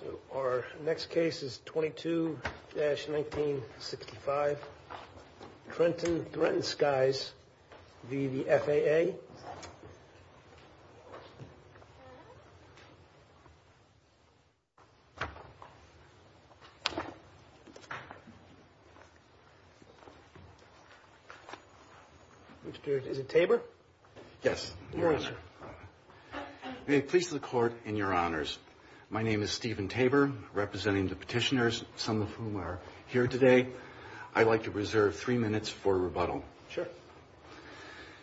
So, our next case is 22-1965, Trenton Threatened Skies v. the FAA. Mr. is it Tabor? Yes, Your Honor. May it please the Court and Your Honors, my name is Stephen Tabor, representing the petitioners, some of whom are here today. I'd like to reserve three minutes for rebuttal. Sure.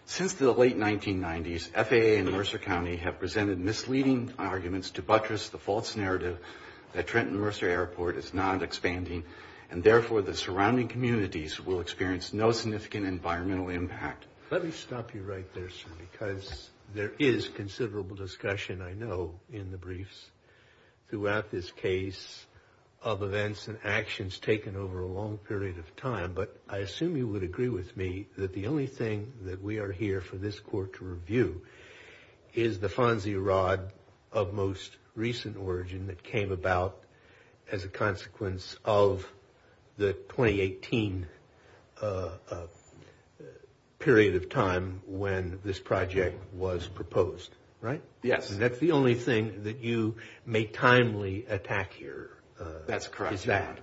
Since the late 1990s, FAA and Mercer County have presented misleading arguments to buttress the false narrative that Trenton Mercer Airport is not expanding, and therefore the surrounding communities will experience no significant environmental impact. Let me stop you right there, sir, because there is considerable discussion, I know, in the briefs throughout this case of events and actions taken over a long period of time, but I assume you would agree with me that the only thing that we are here for this Court to review is the Fonzie Rod of most recent origin that came about as a consequence of the 2018 period of time when this project was proposed, right? Yes. And that's the only thing that you may timely attack here. That's correct, Your Honor.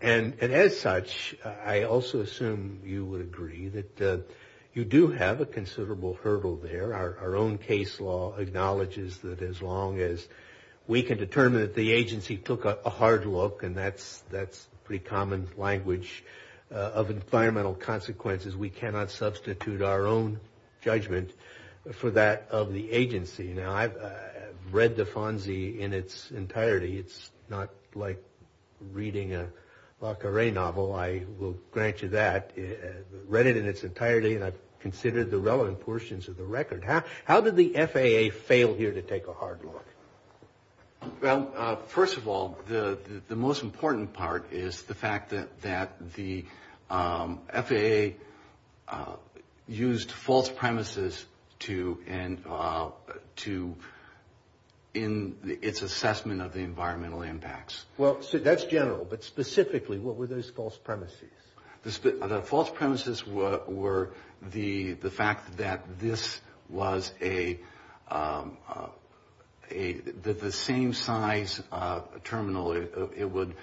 And as such, I also assume you would agree that you do have a considerable hurdle there. Our own case law acknowledges that as long as we can determine that the agency took a hard look, and that's a pretty common language of environmental consequences, we cannot substitute our own judgment for that of the agency. Now, I've read the Fonzie in its entirety. It's not like reading a Le Carre novel. I will grant you that. I've read it in its entirety, and I've considered the relevant portions of the record. How did the FAA fail here to take a hard look? Well, first of all, the most important part is the fact that the FAA used false premises in its assessment of the environmental impacts. Well, that's general, but specifically, what were those false premises? The false premises were the fact that this was the same size terminal. It would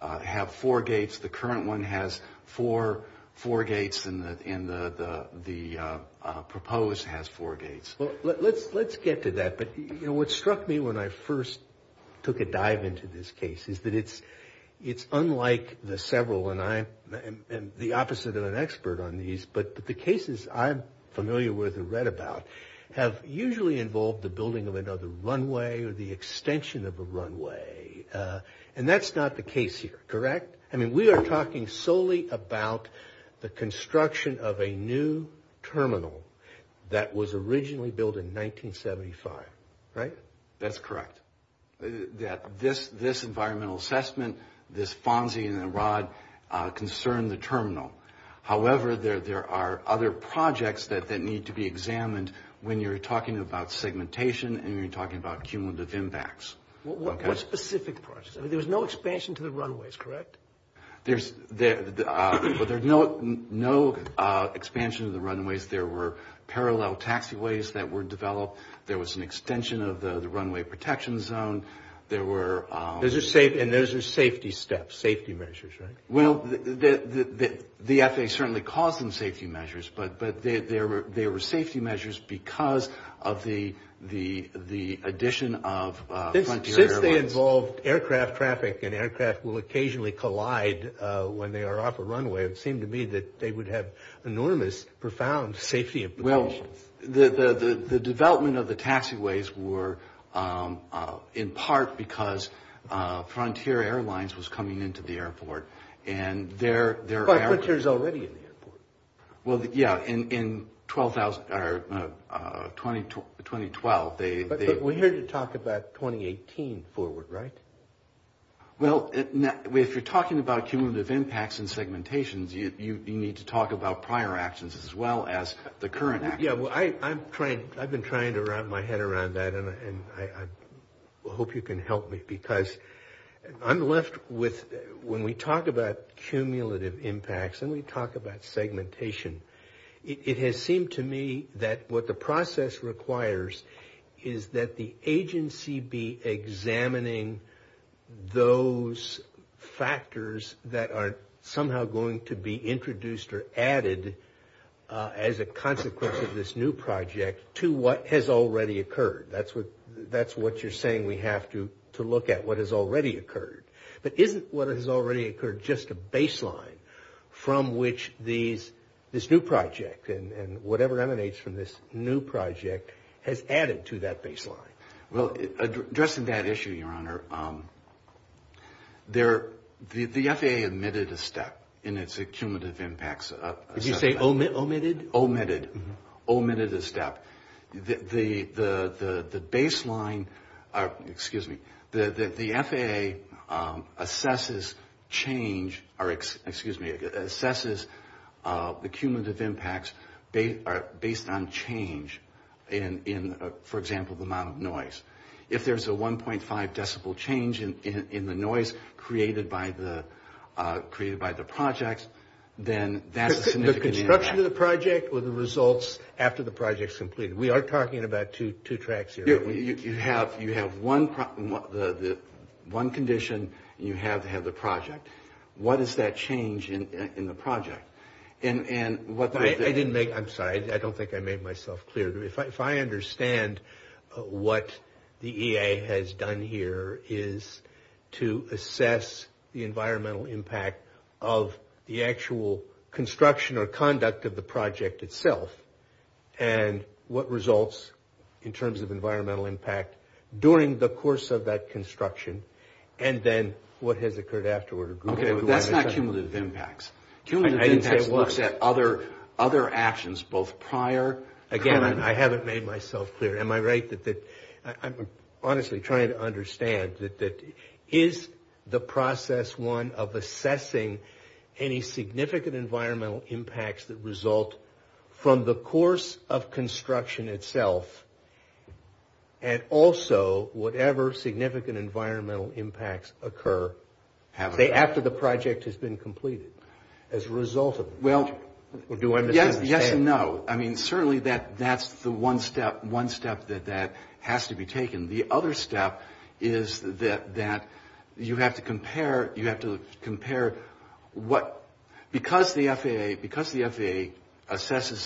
have four gates. The current one has four gates, and the proposed has four gates. Well, let's get to that. What struck me when I first took a dive into this case is that it's unlike the several, and I am the opposite of an expert on these, but the cases I'm familiar with and read about have usually involved the building of another runway or the extension of a runway, and that's not the case here, correct? I mean, we are talking solely about the construction of a new terminal that was originally built in 1975, right? That's correct. This environmental assessment, this FONSI and the ROD concern the terminal. However, there are other projects that need to be examined when you're talking about segmentation and when you're talking about cumulative impacts. What specific projects? There was no expansion to the runways, correct? There's no expansion to the runways. There were parallel taxiways that were developed. There was an extension of the runway protection zone. And those are safety steps, safety measures, right? Well, the FAA certainly calls them safety measures, but they were safety measures because of the addition of frontier airlines. And that involved aircraft traffic, and aircraft will occasionally collide when they are off a runway. It seemed to me that they would have enormous, profound safety implications. Well, the development of the taxiways were in part because frontier airlines was coming into the airport. But frontier's already in the airport. Well, yeah, in 2012. But we're here to talk about 2018 forward, right? Well, if you're talking about cumulative impacts and segmentations, you need to talk about prior actions as well as the current actions. Yeah, I've been trying to wrap my head around that, and I hope you can help me. Because I'm left with, when we talk about cumulative impacts and we talk about segmentation, it has seemed to me that what the process requires is that the agency be examining those factors that are somehow going to be introduced or added as a consequence of this new project to what has already occurred. That's what you're saying we have to look at, what has already occurred. But isn't what has already occurred just a baseline from which this new project and whatever emanates from this new project has added to that baseline? Well, addressing that issue, Your Honor, the FAA omitted a step in its cumulative impacts assessment. Did you say omitted? Omitted a step. The baseline, excuse me, the FAA assesses change, or excuse me, assesses the cumulative impacts based on change in, for example, the amount of noise. If there's a 1.5 decibel change in the noise created by the project, then that's a significant impact. The construction of the project or the results after the project is completed. We are talking about two tracks here. You have one condition, and you have to have the project. What is that change in the project? I didn't make, I'm sorry, I don't think I made myself clear. If I understand what the EA has done here is to assess the environmental impact of the actual construction or conduct of the project itself, and what results in terms of environmental impact during the course of that construction, and then what has occurred afterward. Okay, but that's not cumulative impacts. Cumulative impacts looks at other actions, both prior, current. Again, I haven't made myself clear. Am I right that I'm honestly trying to understand that is the process one of assessing any significant environmental impacts that result from the course of construction itself, and also whatever significant environmental impacts occur after the project has been completed? Well, yes and no. I mean, certainly that's the one step that has to be taken. The other step is that you have to compare what, because the FAA assesses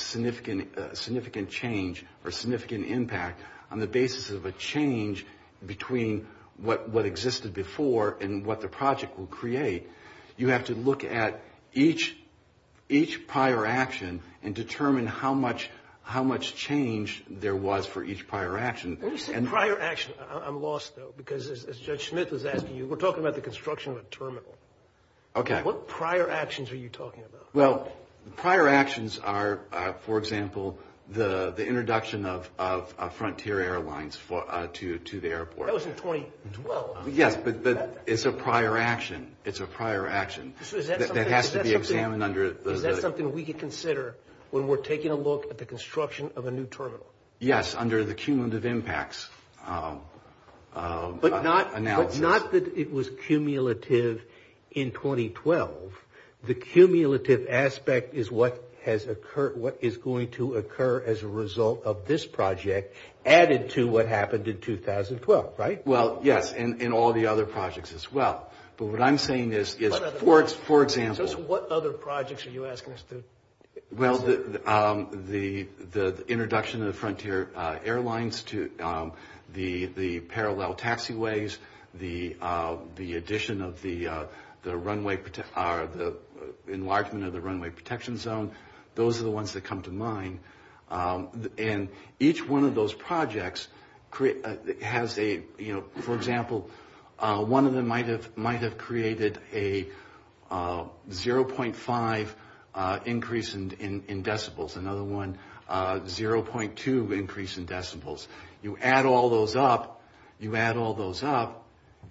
significant change or significant impact on the basis of a change between what existed before and what the project will create, you have to look at each prior action and determine how much change there was for each prior action. When you say prior action, I'm lost though, because as Judge Smith was asking you, we're talking about the construction of a terminal. Okay. What prior actions are you talking about? Well, prior actions are, for example, the introduction of Frontier Airlines to the airport. That was in 2012. Yes, but it's a prior action. It's a prior action. Is that something we could consider when we're taking a look at the construction of a new terminal? Yes, under the cumulative impacts analysis. But not that it was cumulative in 2012. The cumulative aspect is what has occurred, what is going to occur as a result of this project added to what happened in 2012, right? Well, yes, and all the other projects as well. But what I'm saying is, for example. What other projects are you asking us to consider? Well, the introduction of Frontier Airlines to the parallel taxiways, the addition of the enlargement of the runway protection zone. Those are the ones that come to mind. And each one of those projects has a, you know. For example, one of them might have created a 0.5 increase in decibels. Another one, 0.2 increase in decibels. You add all those up. You add all those up.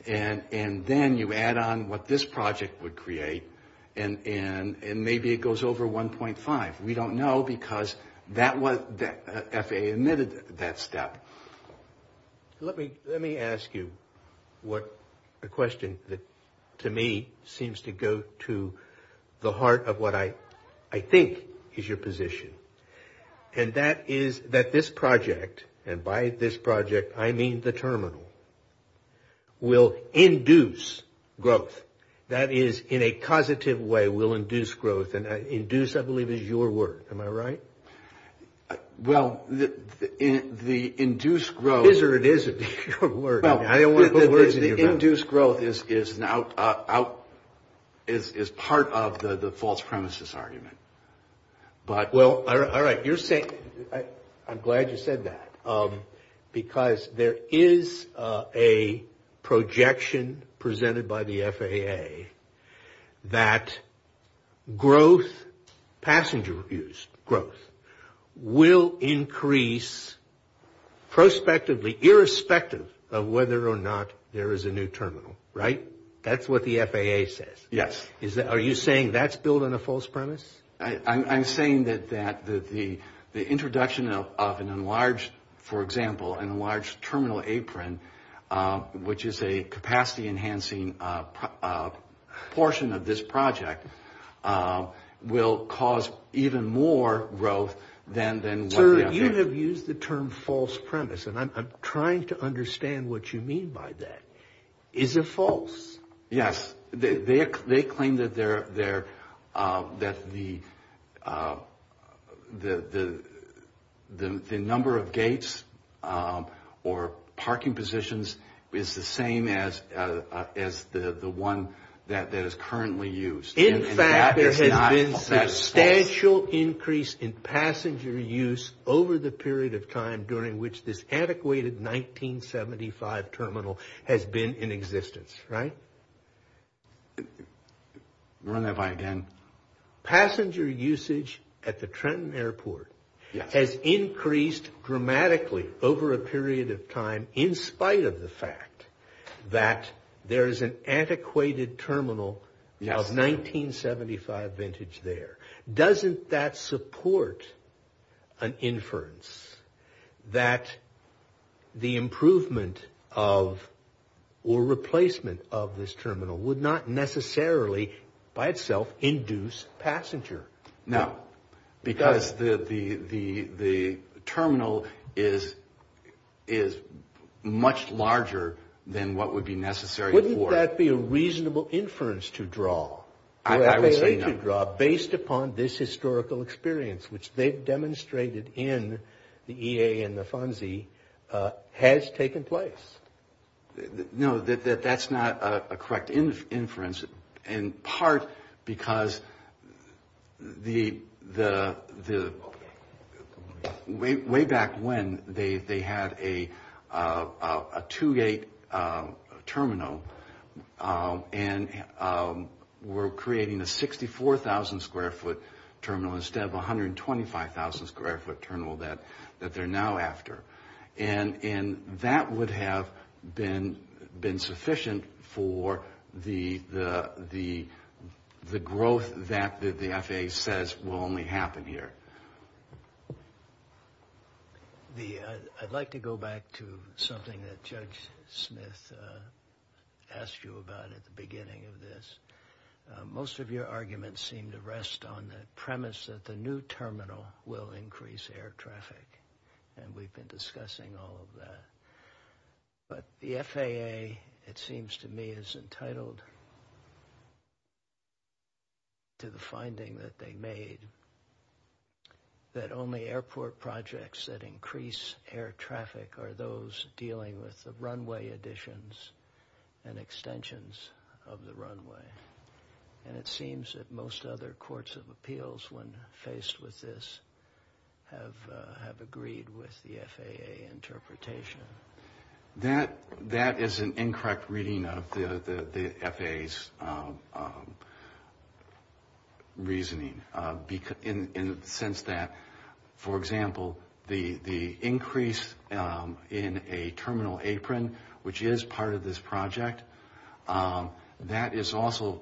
And then you add on what this project would create. And maybe it goes over 1.5. We don't know because FAA admitted that step. Let me ask you a question that, to me, seems to go to the heart of what I think is your position. And that is that this project, and by this project I mean the terminal, will induce growth. That is, in a causative way, will induce growth. And induce, I believe, is your word. Am I right? Well, the induced growth. Is or it isn't. Your word. I didn't want to put words in your mouth. The induced growth is part of the false premises argument. Well, all right. I'm glad you said that. Because there is a projection presented by the FAA that growth, passenger use growth, will increase prospectively, irrespective of whether or not there is a new terminal. Right? That's what the FAA says. Yes. Are you saying that's building a false premise? I'm saying that the introduction of an enlarged, for example, an enlarged terminal apron, which is a capacity enhancing portion of this project, will cause even more growth than what we have here. Sir, you have used the term false premise, and I'm trying to understand what you mean by that. Is it false? Yes. They claim that the number of gates or parking positions is the same as the one that is currently used. In fact, there has been substantial increase in passenger use over the period of time during which this antiquated 1975 terminal has been in existence. Right? Run that by again. Passenger usage at the Trenton Airport has increased dramatically over a period of time, in spite of the fact that there is an antiquated terminal of 1975 vintage there. Doesn't that support an inference that the improvement of or replacement of this terminal would not necessarily by itself induce passenger? No, because the terminal is much larger than what would be necessary for it. Wouldn't that be a reasonable inference to draw? I would say no. Would that be a reasonable inference to draw based upon this historical experience, which they've demonstrated in the EA and the FONSI, has taken place? No, that's not a correct inference, in part because way back when they had a two-gate terminal and were creating a 64,000 square foot terminal instead of a 125,000 square foot terminal that they're now after. And that would have been sufficient for the growth that the FAA says will only happen here. I'd like to go back to something that Judge Smith asked you about at the beginning of this. Most of your arguments seem to rest on the premise that the new terminal will increase air traffic. And we've been discussing all of that. But the FAA, it seems to me, is entitled to the finding that they made that only airport projects that increase air traffic are those dealing with the runway additions and extensions of the runway. And it seems that most other courts of appeals, when faced with this, have agreed with the FAA interpretation. That is an incorrect reading of the FAA's reasoning in the sense that, for example, the increase in a terminal apron, which is part of this project, that is also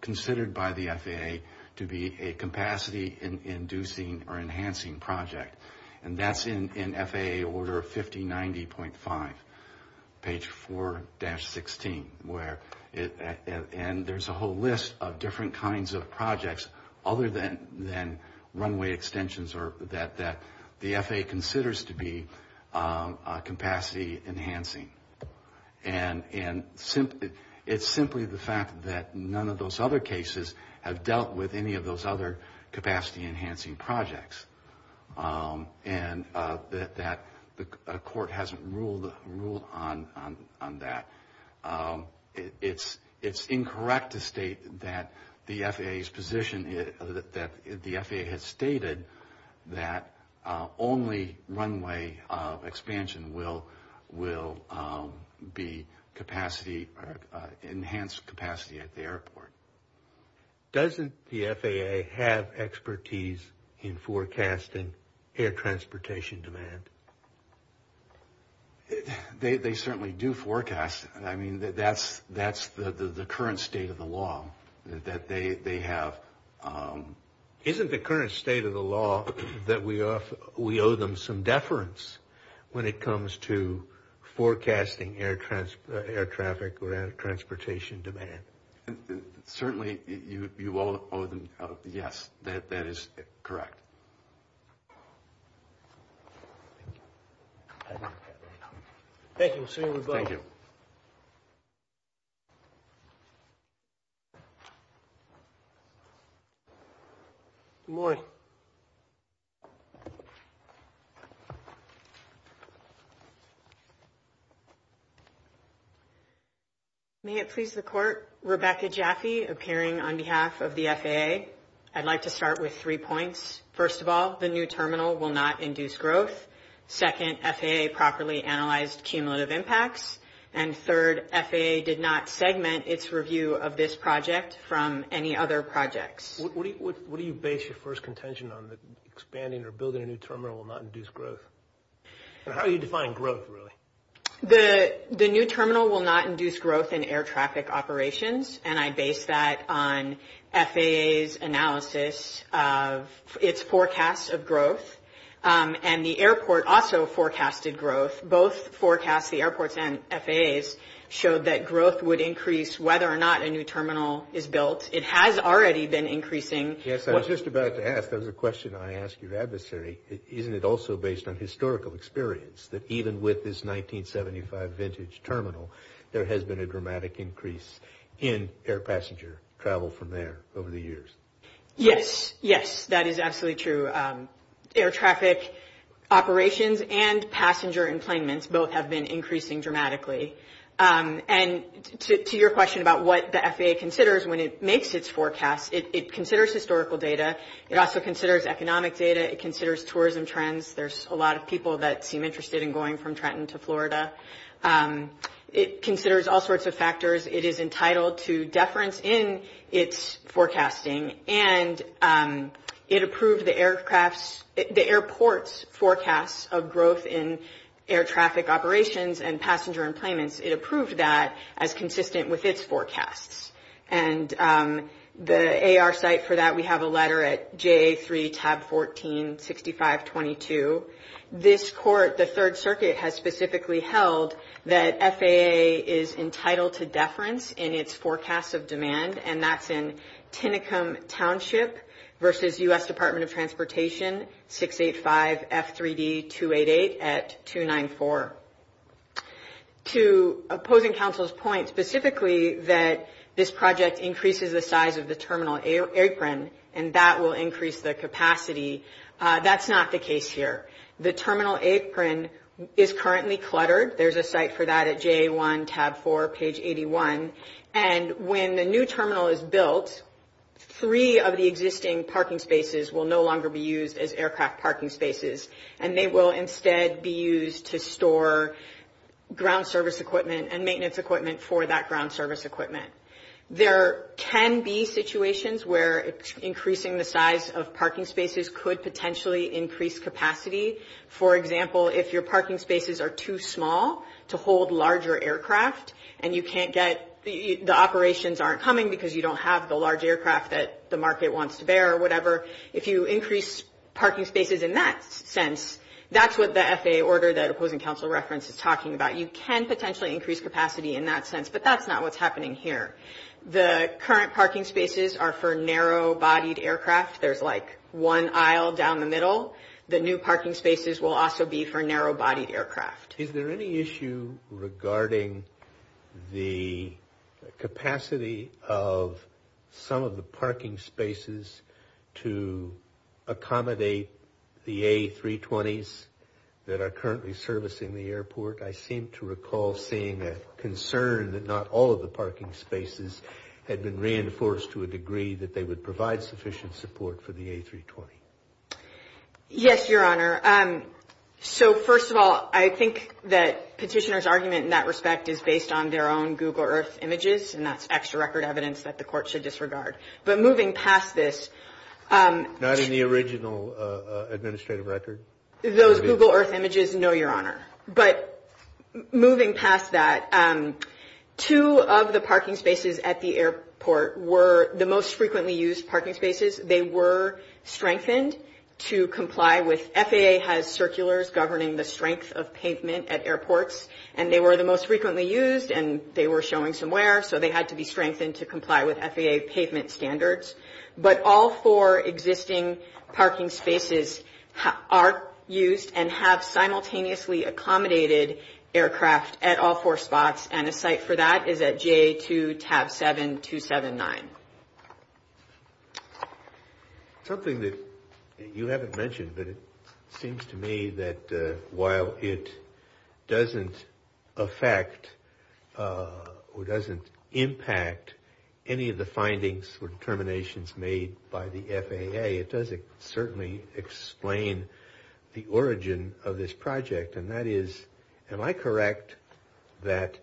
considered by the FAA to be a capacity-inducing or enhancing project. And that's in FAA Order 5090.5, page 4-16. And there's a whole list of different kinds of projects other than runway extensions that the FAA considers to be capacity-enhancing. And it's simply the fact that none of those other cases have dealt with any of those other capacity-enhancing projects. And that a court hasn't ruled on that. It's incorrect to state that the FAA has stated that only runway expansion will be enhanced capacity at the airport. Doesn't the FAA have expertise in forecasting air transportation demand? They certainly do forecast. I mean, that's the current state of the law that they have. Isn't the current state of the law that we owe them some deference when it comes to forecasting air traffic or air transportation demand? Certainly, you all owe them. Yes, that is correct. Thank you. We'll see you in a moment. Good morning. Good morning. May it please the Court, Rebecca Jaffe appearing on behalf of the FAA. I'd like to start with three points. First of all, the new terminal will not induce growth. Second, FAA properly analyzed cumulative impacts. And third, FAA did not segment its review of this project from any other projects. What do you base your first contention on, that expanding or building a new terminal will not induce growth? And how do you define growth, really? The new terminal will not induce growth in air traffic operations, and I base that on FAA's analysis of its forecasts of growth. And the airport also forecasted growth. Both forecasts, the airports and FAA's, showed that growth would increase whether or not a new terminal is built. It has already been increasing. Yes, I was just about to ask. There was a question I asked your adversary. Isn't it also based on historical experience that even with this 1975 vintage terminal, there has been a dramatic increase in air passenger travel from there over the years? Yes, yes, that is absolutely true. Air traffic operations and passenger employments both have been increasing dramatically. And to your question about what the FAA considers when it makes its forecast, it considers historical data. It also considers economic data. It considers tourism trends. There's a lot of people that seem interested in going from Trenton to Florida. It considers all sorts of factors. It is entitled to deference in its forecasting. And it approved the airport's forecasts of growth in air traffic operations and passenger employments. It approved that as consistent with its forecasts. And the AR site for that, we have a letter at JA3, tab 14, 6522. This court, the Third Circuit, has specifically held that FAA is entitled to deference in its forecasts of demand. And that's in Tinicum Township versus U.S. Department of Transportation, 685F3D288 at 294. To opposing counsel's point specifically that this project increases the size of the terminal apron, and that will increase the capacity, that's not the case here. The terminal apron is currently cluttered. There's a site for that at JA1, tab 4, page 81. And when the new terminal is built, three of the existing parking spaces will no longer be used as aircraft parking spaces. And they will instead be used to store ground service equipment and maintenance equipment for that ground service equipment. There can be situations where increasing the size of parking spaces could potentially increase capacity. For example, if your parking spaces are too small to hold larger aircraft and you can't get – the operations aren't coming because you don't have the large aircraft that the market wants to bear or whatever, if you increase parking spaces in that sense, that's what the FAA order that opposing counsel referenced is talking about. You can potentially increase capacity in that sense, but that's not what's happening here. The current parking spaces are for narrow-bodied aircraft. There's like one aisle down the middle. The new parking spaces will also be for narrow-bodied aircraft. Is there any issue regarding the capacity of some of the parking spaces to accommodate the A320s that are currently servicing the airport? I seem to recall seeing a concern that not all of the parking spaces had been reinforced to a degree that they would provide sufficient support for the A320. Yes, Your Honor. So first of all, I think that Petitioner's argument in that respect is based on their own Google Earth images, and that's extra record evidence that the Court should disregard. But moving past this – Not in the original administrative record? Those Google Earth images, no, Your Honor. But moving past that, two of the parking spaces at the airport were the most frequently used parking spaces. They were strengthened to comply with – FAA has circulars governing the strength of pavement at airports, and they were the most frequently used, and they were showing some wear, so they had to be strengthened to comply with FAA pavement standards. But all four existing parking spaces are used and have simultaneously accommodated aircraft at all four spots, and a site for that is at GA2 tab 7279. Something that you haven't mentioned, but it seems to me that while it doesn't affect or doesn't impact any of the findings or determinations made by the FAA, it does certainly explain the origin of this project, and that is, am I correct that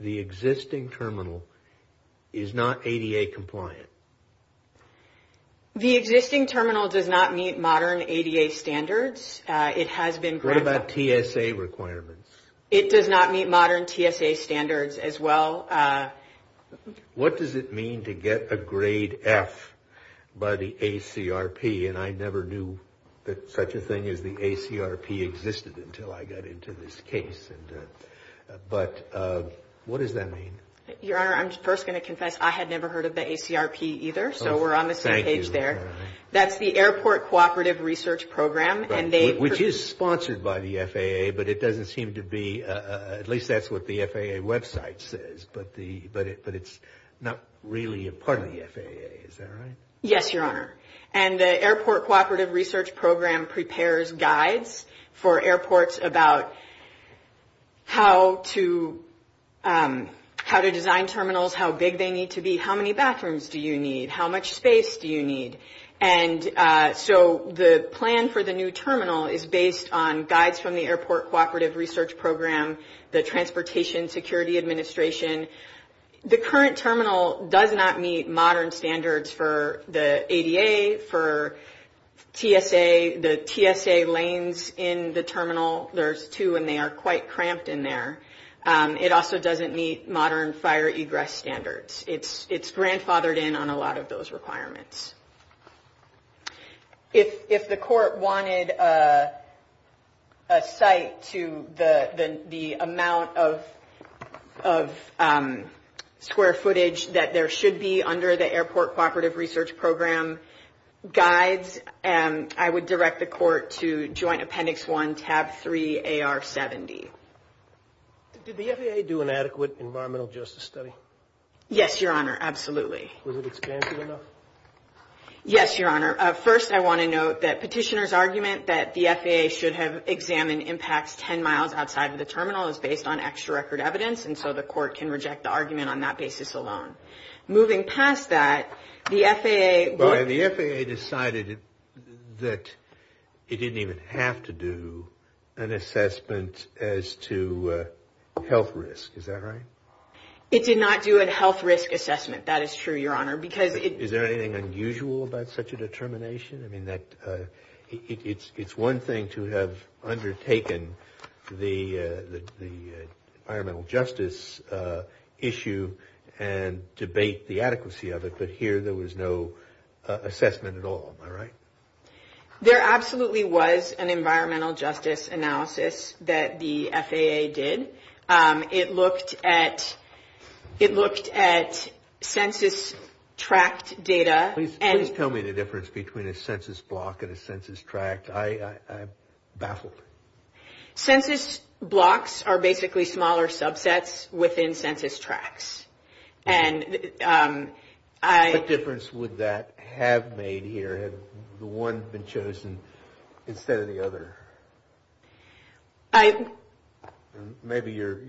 the existing terminal is not ADA compliant? The existing terminal does not meet modern ADA standards. It has been – What about TSA requirements? It does not meet modern TSA standards as well. What does it mean to get a grade F by the ACRP? And I never knew that such a thing as the ACRP existed until I got into this case. But what does that mean? Your Honor, I'm first going to confess, I had never heard of the ACRP either, so we're on the same page there. That's the Airport Cooperative Research Program, and they – but it doesn't seem to be – at least that's what the FAA website says, but it's not really a part of the FAA. Is that right? Yes, Your Honor. And the Airport Cooperative Research Program prepares guides for airports about how to design terminals, how big they need to be, how many bathrooms do you need, how much space do you need. And so the plan for the new terminal is based on guides from the Airport Cooperative Research Program, the Transportation Security Administration. The current terminal does not meet modern standards for the ADA, for TSA. The TSA lanes in the terminal, there's two, and they are quite cramped in there. It also doesn't meet modern fire egress standards. It's grandfathered in on a lot of those requirements. If the court wanted a site to the amount of square footage that there should be under the Airport Cooperative Research Program guides, I would direct the court to Joint Appendix 1, tab 3, AR 70. Did the FAA do an adequate environmental justice study? Yes, Your Honor. Absolutely. Was it expansive enough? Yes, Your Honor. First, I want to note that petitioner's argument that the FAA should have examined impacts 10 miles outside of the terminal is based on extra record evidence, and so the court can reject the argument on that basis alone. Moving past that, the FAA – But the FAA decided that it didn't even have to do an assessment as to health risk. Is that right? It did not do a health risk assessment. That is true, Your Honor, because it – Is there anything unusual about such a determination? I mean, it's one thing to have undertaken the environmental justice issue and debate the adequacy of it, but here there was no assessment at all. Am I right? There absolutely was an environmental justice analysis that the FAA did. It looked at census tract data and – Please tell me the difference between a census block and a census tract. I'm baffled. Census blocks are basically smaller subsets within census tracts, and I – What difference would that have made here had the one been chosen instead of the other? I – Maybe your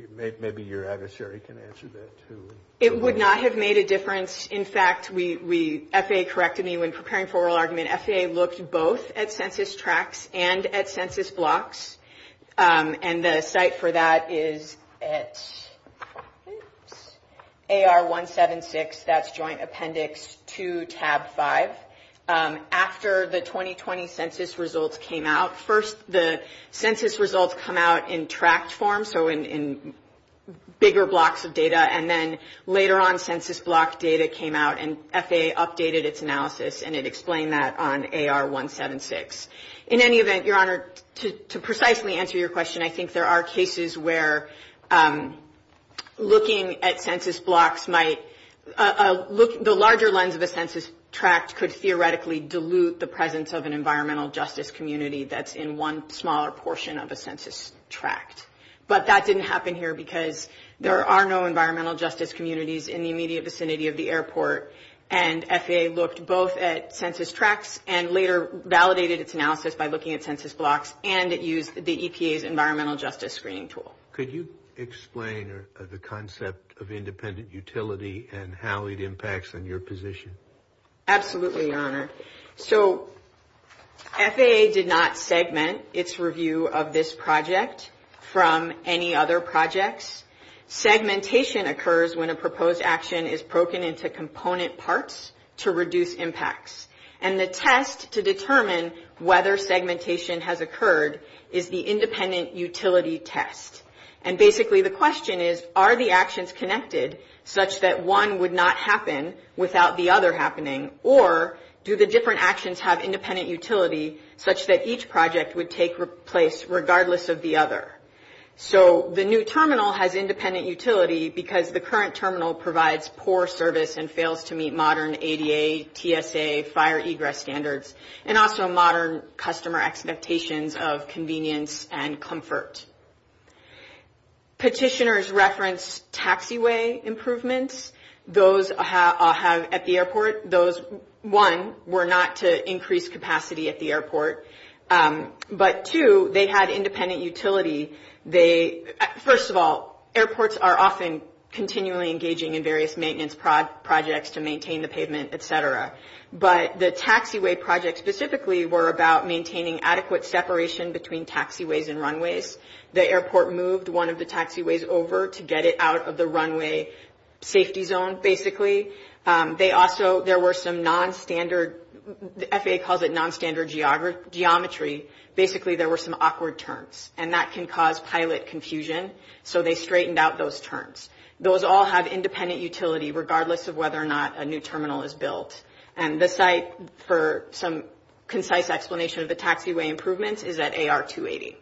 adversary can answer that, too. It would not have made a difference. In fact, we – FAA corrected me when preparing for oral argument. FAA looked both at census tracts and at census blocks, and the site for that is at AR 176. That's Joint Appendix 2, Tab 5. After the 2020 census results came out, first the census results come out in tract form, so in bigger blocks of data, and then later on census block data came out, and FAA updated its analysis and it explained that on AR 176. In any event, Your Honor, to precisely answer your question, I think there are cases where looking at census blocks might – the larger lens of a census tract could theoretically dilute the presence of an environmental justice community that's in one smaller portion of a census tract, but that didn't happen here because there are no environmental justice communities in the immediate vicinity of the airport, and FAA looked both at census tracts and later validated its analysis by looking at census blocks, and it used the EPA's environmental justice screening tool. Could you explain the concept of independent utility and how it impacts on your position? Absolutely, Your Honor. So FAA did not segment its review of this project from any other projects. Segmentation occurs when a proposed action is broken into component parts to reduce impacts, and the test to determine whether segmentation has occurred is the independent utility test, and basically the question is, are the actions connected such that one would not happen without the other happening, or do the different actions have independent utility such that each project would take place regardless of the other? So the new terminal has independent utility because the current terminal provides poor service and fails to meet modern ADA, TSA, fire egress standards, and also modern customer expectations of convenience and comfort. Petitioners reference taxiway improvements. Those at the airport, those, one, were not to increase capacity at the airport, but two, they had independent utility. First of all, airports are often continually engaging in various maintenance projects to maintain the pavement, et cetera, but the taxiway projects specifically were about maintaining adequate separation between taxiways and runways. The airport moved one of the taxiways over to get it out of the runway safety zone, basically. They also, there were some nonstandard, FAA calls it nonstandard geometry, basically there were some awkward turns, and that can cause pilot confusion, so they straightened out those turns. Those all have independent utility regardless of whether or not a new terminal is built, and the site for some concise explanation of the taxiway improvements is at AR-280.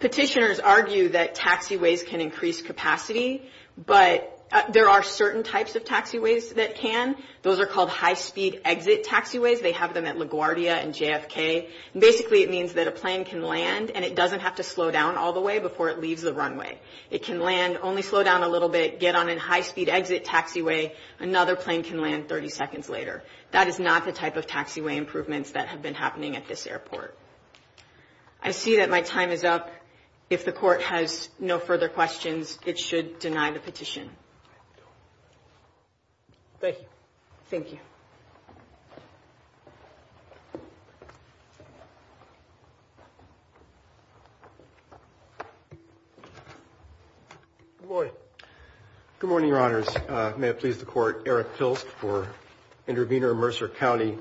Petitioners argue that taxiways can increase capacity, but there are certain types of taxiways that can. Those are called high-speed exit taxiways. They have them at LaGuardia and JFK, and basically it means that a plane can land and it doesn't have to slow down all the way before it leaves the runway. It can land, only slow down a little bit, get on a high-speed exit taxiway, another plane can land 30 seconds later. That is not the type of taxiway improvements that have been happening at this airport. I see that my time is up. Thank you. Thank you. Good morning. Good morning, Your Honors. May it please the Court, Eric Philst for Intervenor, Mercer County.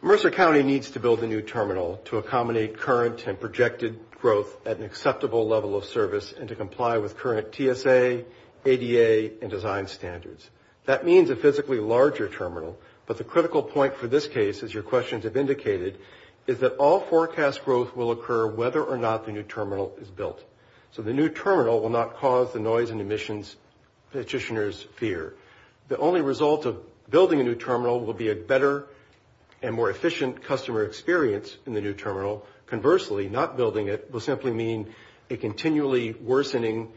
Mercer County needs to build a new terminal to accommodate current and projected growth at an acceptable level of service and to comply with current TSA, ADA, and design standards. That means a physically larger terminal, but the critical point for this case, as your questions have indicated, is that all forecast growth will occur whether or not the new terminal is built. So the new terminal will not cause the noise and emissions petitioners fear. The only result of building a new terminal will be a better and more efficient customer experience in the new terminal. Conversely, not building it will simply mean a continually worsening,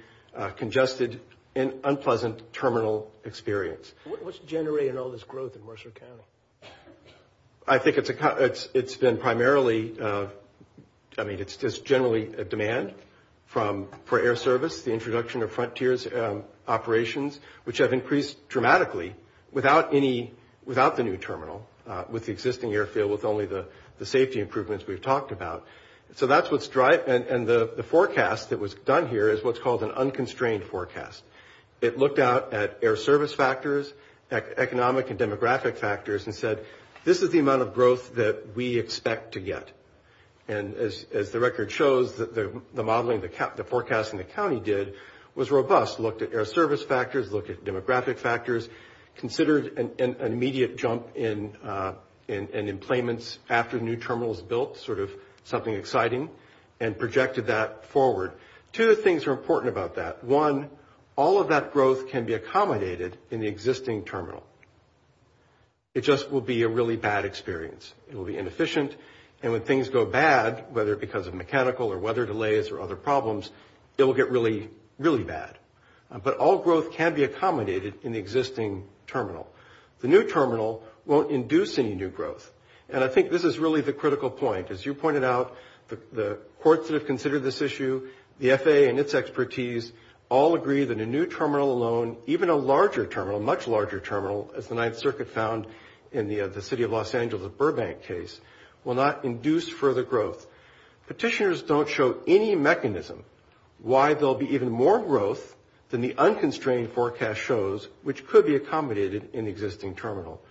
congested, and unpleasant terminal experience. What's generating all this growth in Mercer County? I think it's been primarily, I mean, it's just generally a demand for air service, the introduction of frontiers operations, which have increased dramatically without the new terminal, with the existing airfield, with only the safety improvements we've talked about. So that's what's driving, and the forecast that was done here is what's called an unconstrained forecast. It looked out at air service factors, economic and demographic factors, and said this is the amount of growth that we expect to get. And as the record shows, the modeling, the forecasting the county did was robust, looked at air service factors, looked at demographic factors, considered an immediate jump in employments after the new terminal is built, sort of something exciting, and projected that forward. Two things are important about that. One, all of that growth can be accommodated in the existing terminal. It just will be a really bad experience. It will be inefficient, and when things go bad, whether because of mechanical or weather delays or other problems, it will get really, really bad. But all growth can be accommodated in the existing terminal. The new terminal won't induce any new growth. And I think this is really the critical point. As you pointed out, the courts that have considered this issue, the FAA and its expertise, all agree that a new terminal alone, even a larger terminal, a much larger terminal, as the Ninth Circuit found in the City of Los Angeles Burbank case, will not induce further growth. Petitioners don't show any mechanism why there will be even more growth than the unconstrained forecast shows, which could be accommodated in the existing terminal.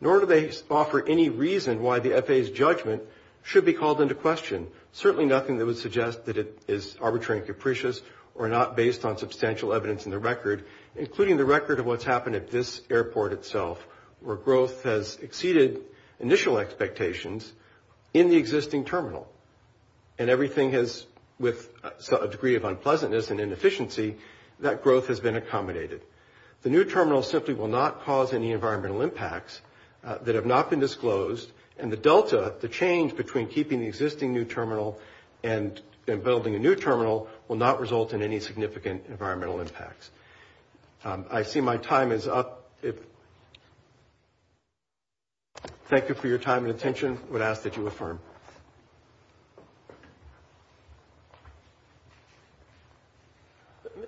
Nor do they offer any reason why the FAA's judgment should be called into question, certainly nothing that would suggest that it is arbitrary and capricious or not based on substantial evidence in the record, including the record of what's happened at this airport itself, where growth has exceeded initial expectations in the existing terminal. And everything has, with a degree of unpleasantness and inefficiency, that growth has been accommodated. The new terminal simply will not cause any environmental impacts that have not been disclosed. And the delta, the change between keeping the existing new terminal and building a new terminal, will not result in any significant environmental impacts. I see my time is up. Thank you for your time and attention. I would ask that you affirm.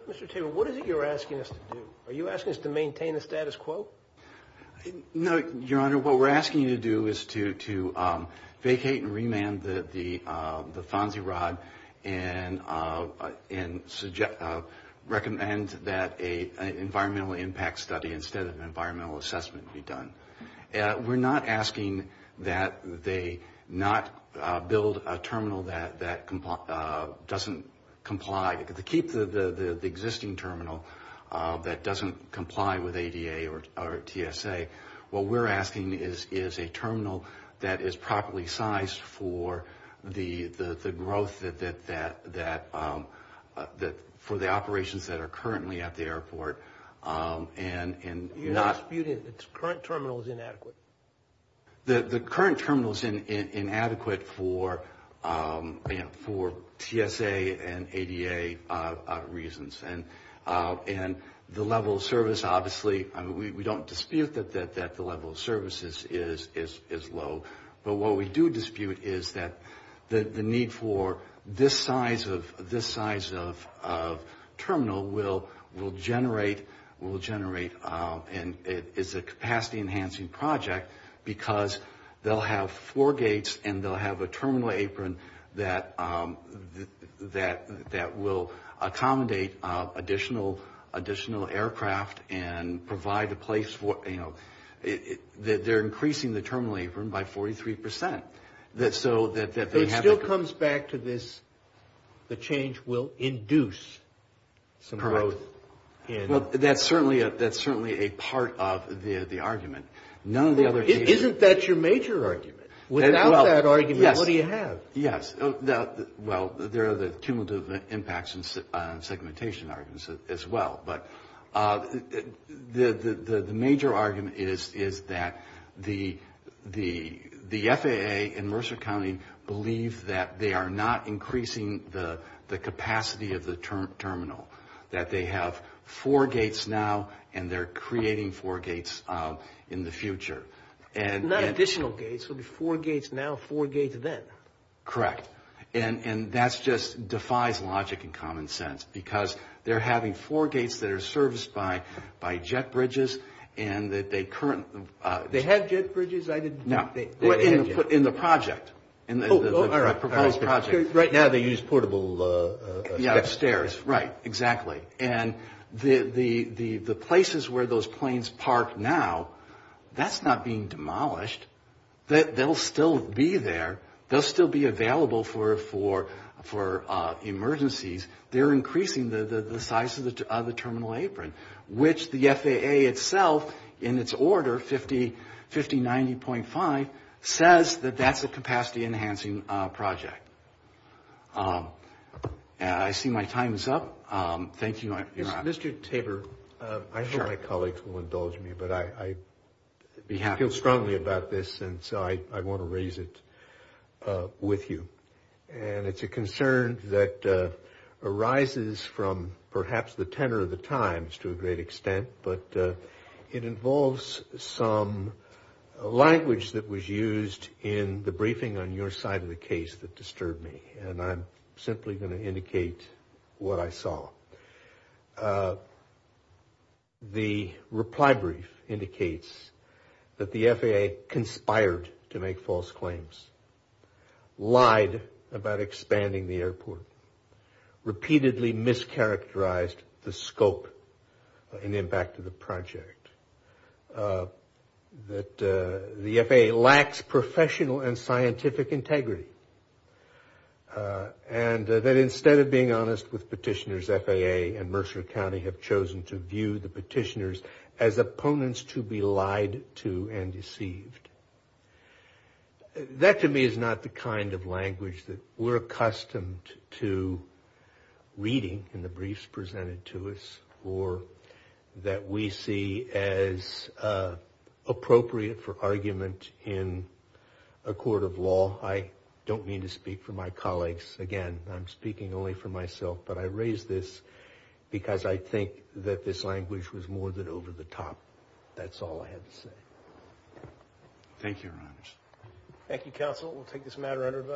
Mr. Taylor, what is it you're asking us to do? Are you asking us to maintain the status quo? No, Your Honor, what we're asking you to do is to vacate and remand the FONSI rod and recommend that an environmental impact study instead of an environmental assessment be done. We're not asking that they not build a terminal that doesn't comply. To keep the existing terminal that doesn't comply with ADA or TSA, what we're asking is a terminal that is properly sized for the growth for the operations that are currently at the airport. You're disputing that the current terminal is inadequate. The current terminal is inadequate for TSA and ADA reasons. And the level of service, obviously, we don't dispute that the level of service is low. But what we do dispute is that the need for this size of terminal will generate and it is a capacity-enhancing project because they'll have four gates and they'll have a terminal apron that will accommodate additional aircraft and provide a place for it. They're increasing the terminal apron by 43 percent. It still comes back to this, the change will induce some growth. Correct. That's certainly a part of the argument. Isn't that your major argument? Without that argument, what do you have? Yes. Well, there are the cumulative impacts and segmentation arguments as well. But the major argument is that the FAA and Mercer County believe that they are not increasing the capacity of the terminal, that they have four gates now and they're creating four gates in the future. Not additional gates, but four gates now, four gates then. Correct. And that just defies logic and common sense because they're having four gates that are serviced by jet bridges. They have jet bridges? No, in the project. Oh, all right. Right now they use portable stairs. Right, exactly. And the places where those planes park now, that's not being demolished. They'll still be there. They'll still be available for emergencies. They're increasing the size of the terminal apron, which the FAA itself, in its order, 5090.5, says that that's a capacity-enhancing project. I see my time is up. Thank you. Mr. Tabor, I hope my colleagues will indulge me, but I feel strongly about this and so I want to raise it with you. And it's a concern that arises from perhaps the tenor of the times to a great extent, but it involves some language that was used in the briefing on your side of the case that disturbed me, and I'm simply going to indicate what I saw. The reply brief indicates that the FAA conspired to make false claims, lied about expanding the airport, repeatedly mischaracterized the scope and impact of the project, that the FAA lacks professional and scientific integrity, and that instead of being honest with petitioners, FAA and Mercer County have chosen to view the petitioners as opponents to be lied to and deceived. That, to me, is not the kind of language that we're accustomed to reading in the briefs presented to us or that we see as appropriate for argument in a court of law. I don't mean to speak for my colleagues. Again, I'm speaking only for myself, but I raise this because I think that this language was more than over the top. That's all I have to say. Thank you, Your Honors. Thank you, Counsel. We'll take this matter under review.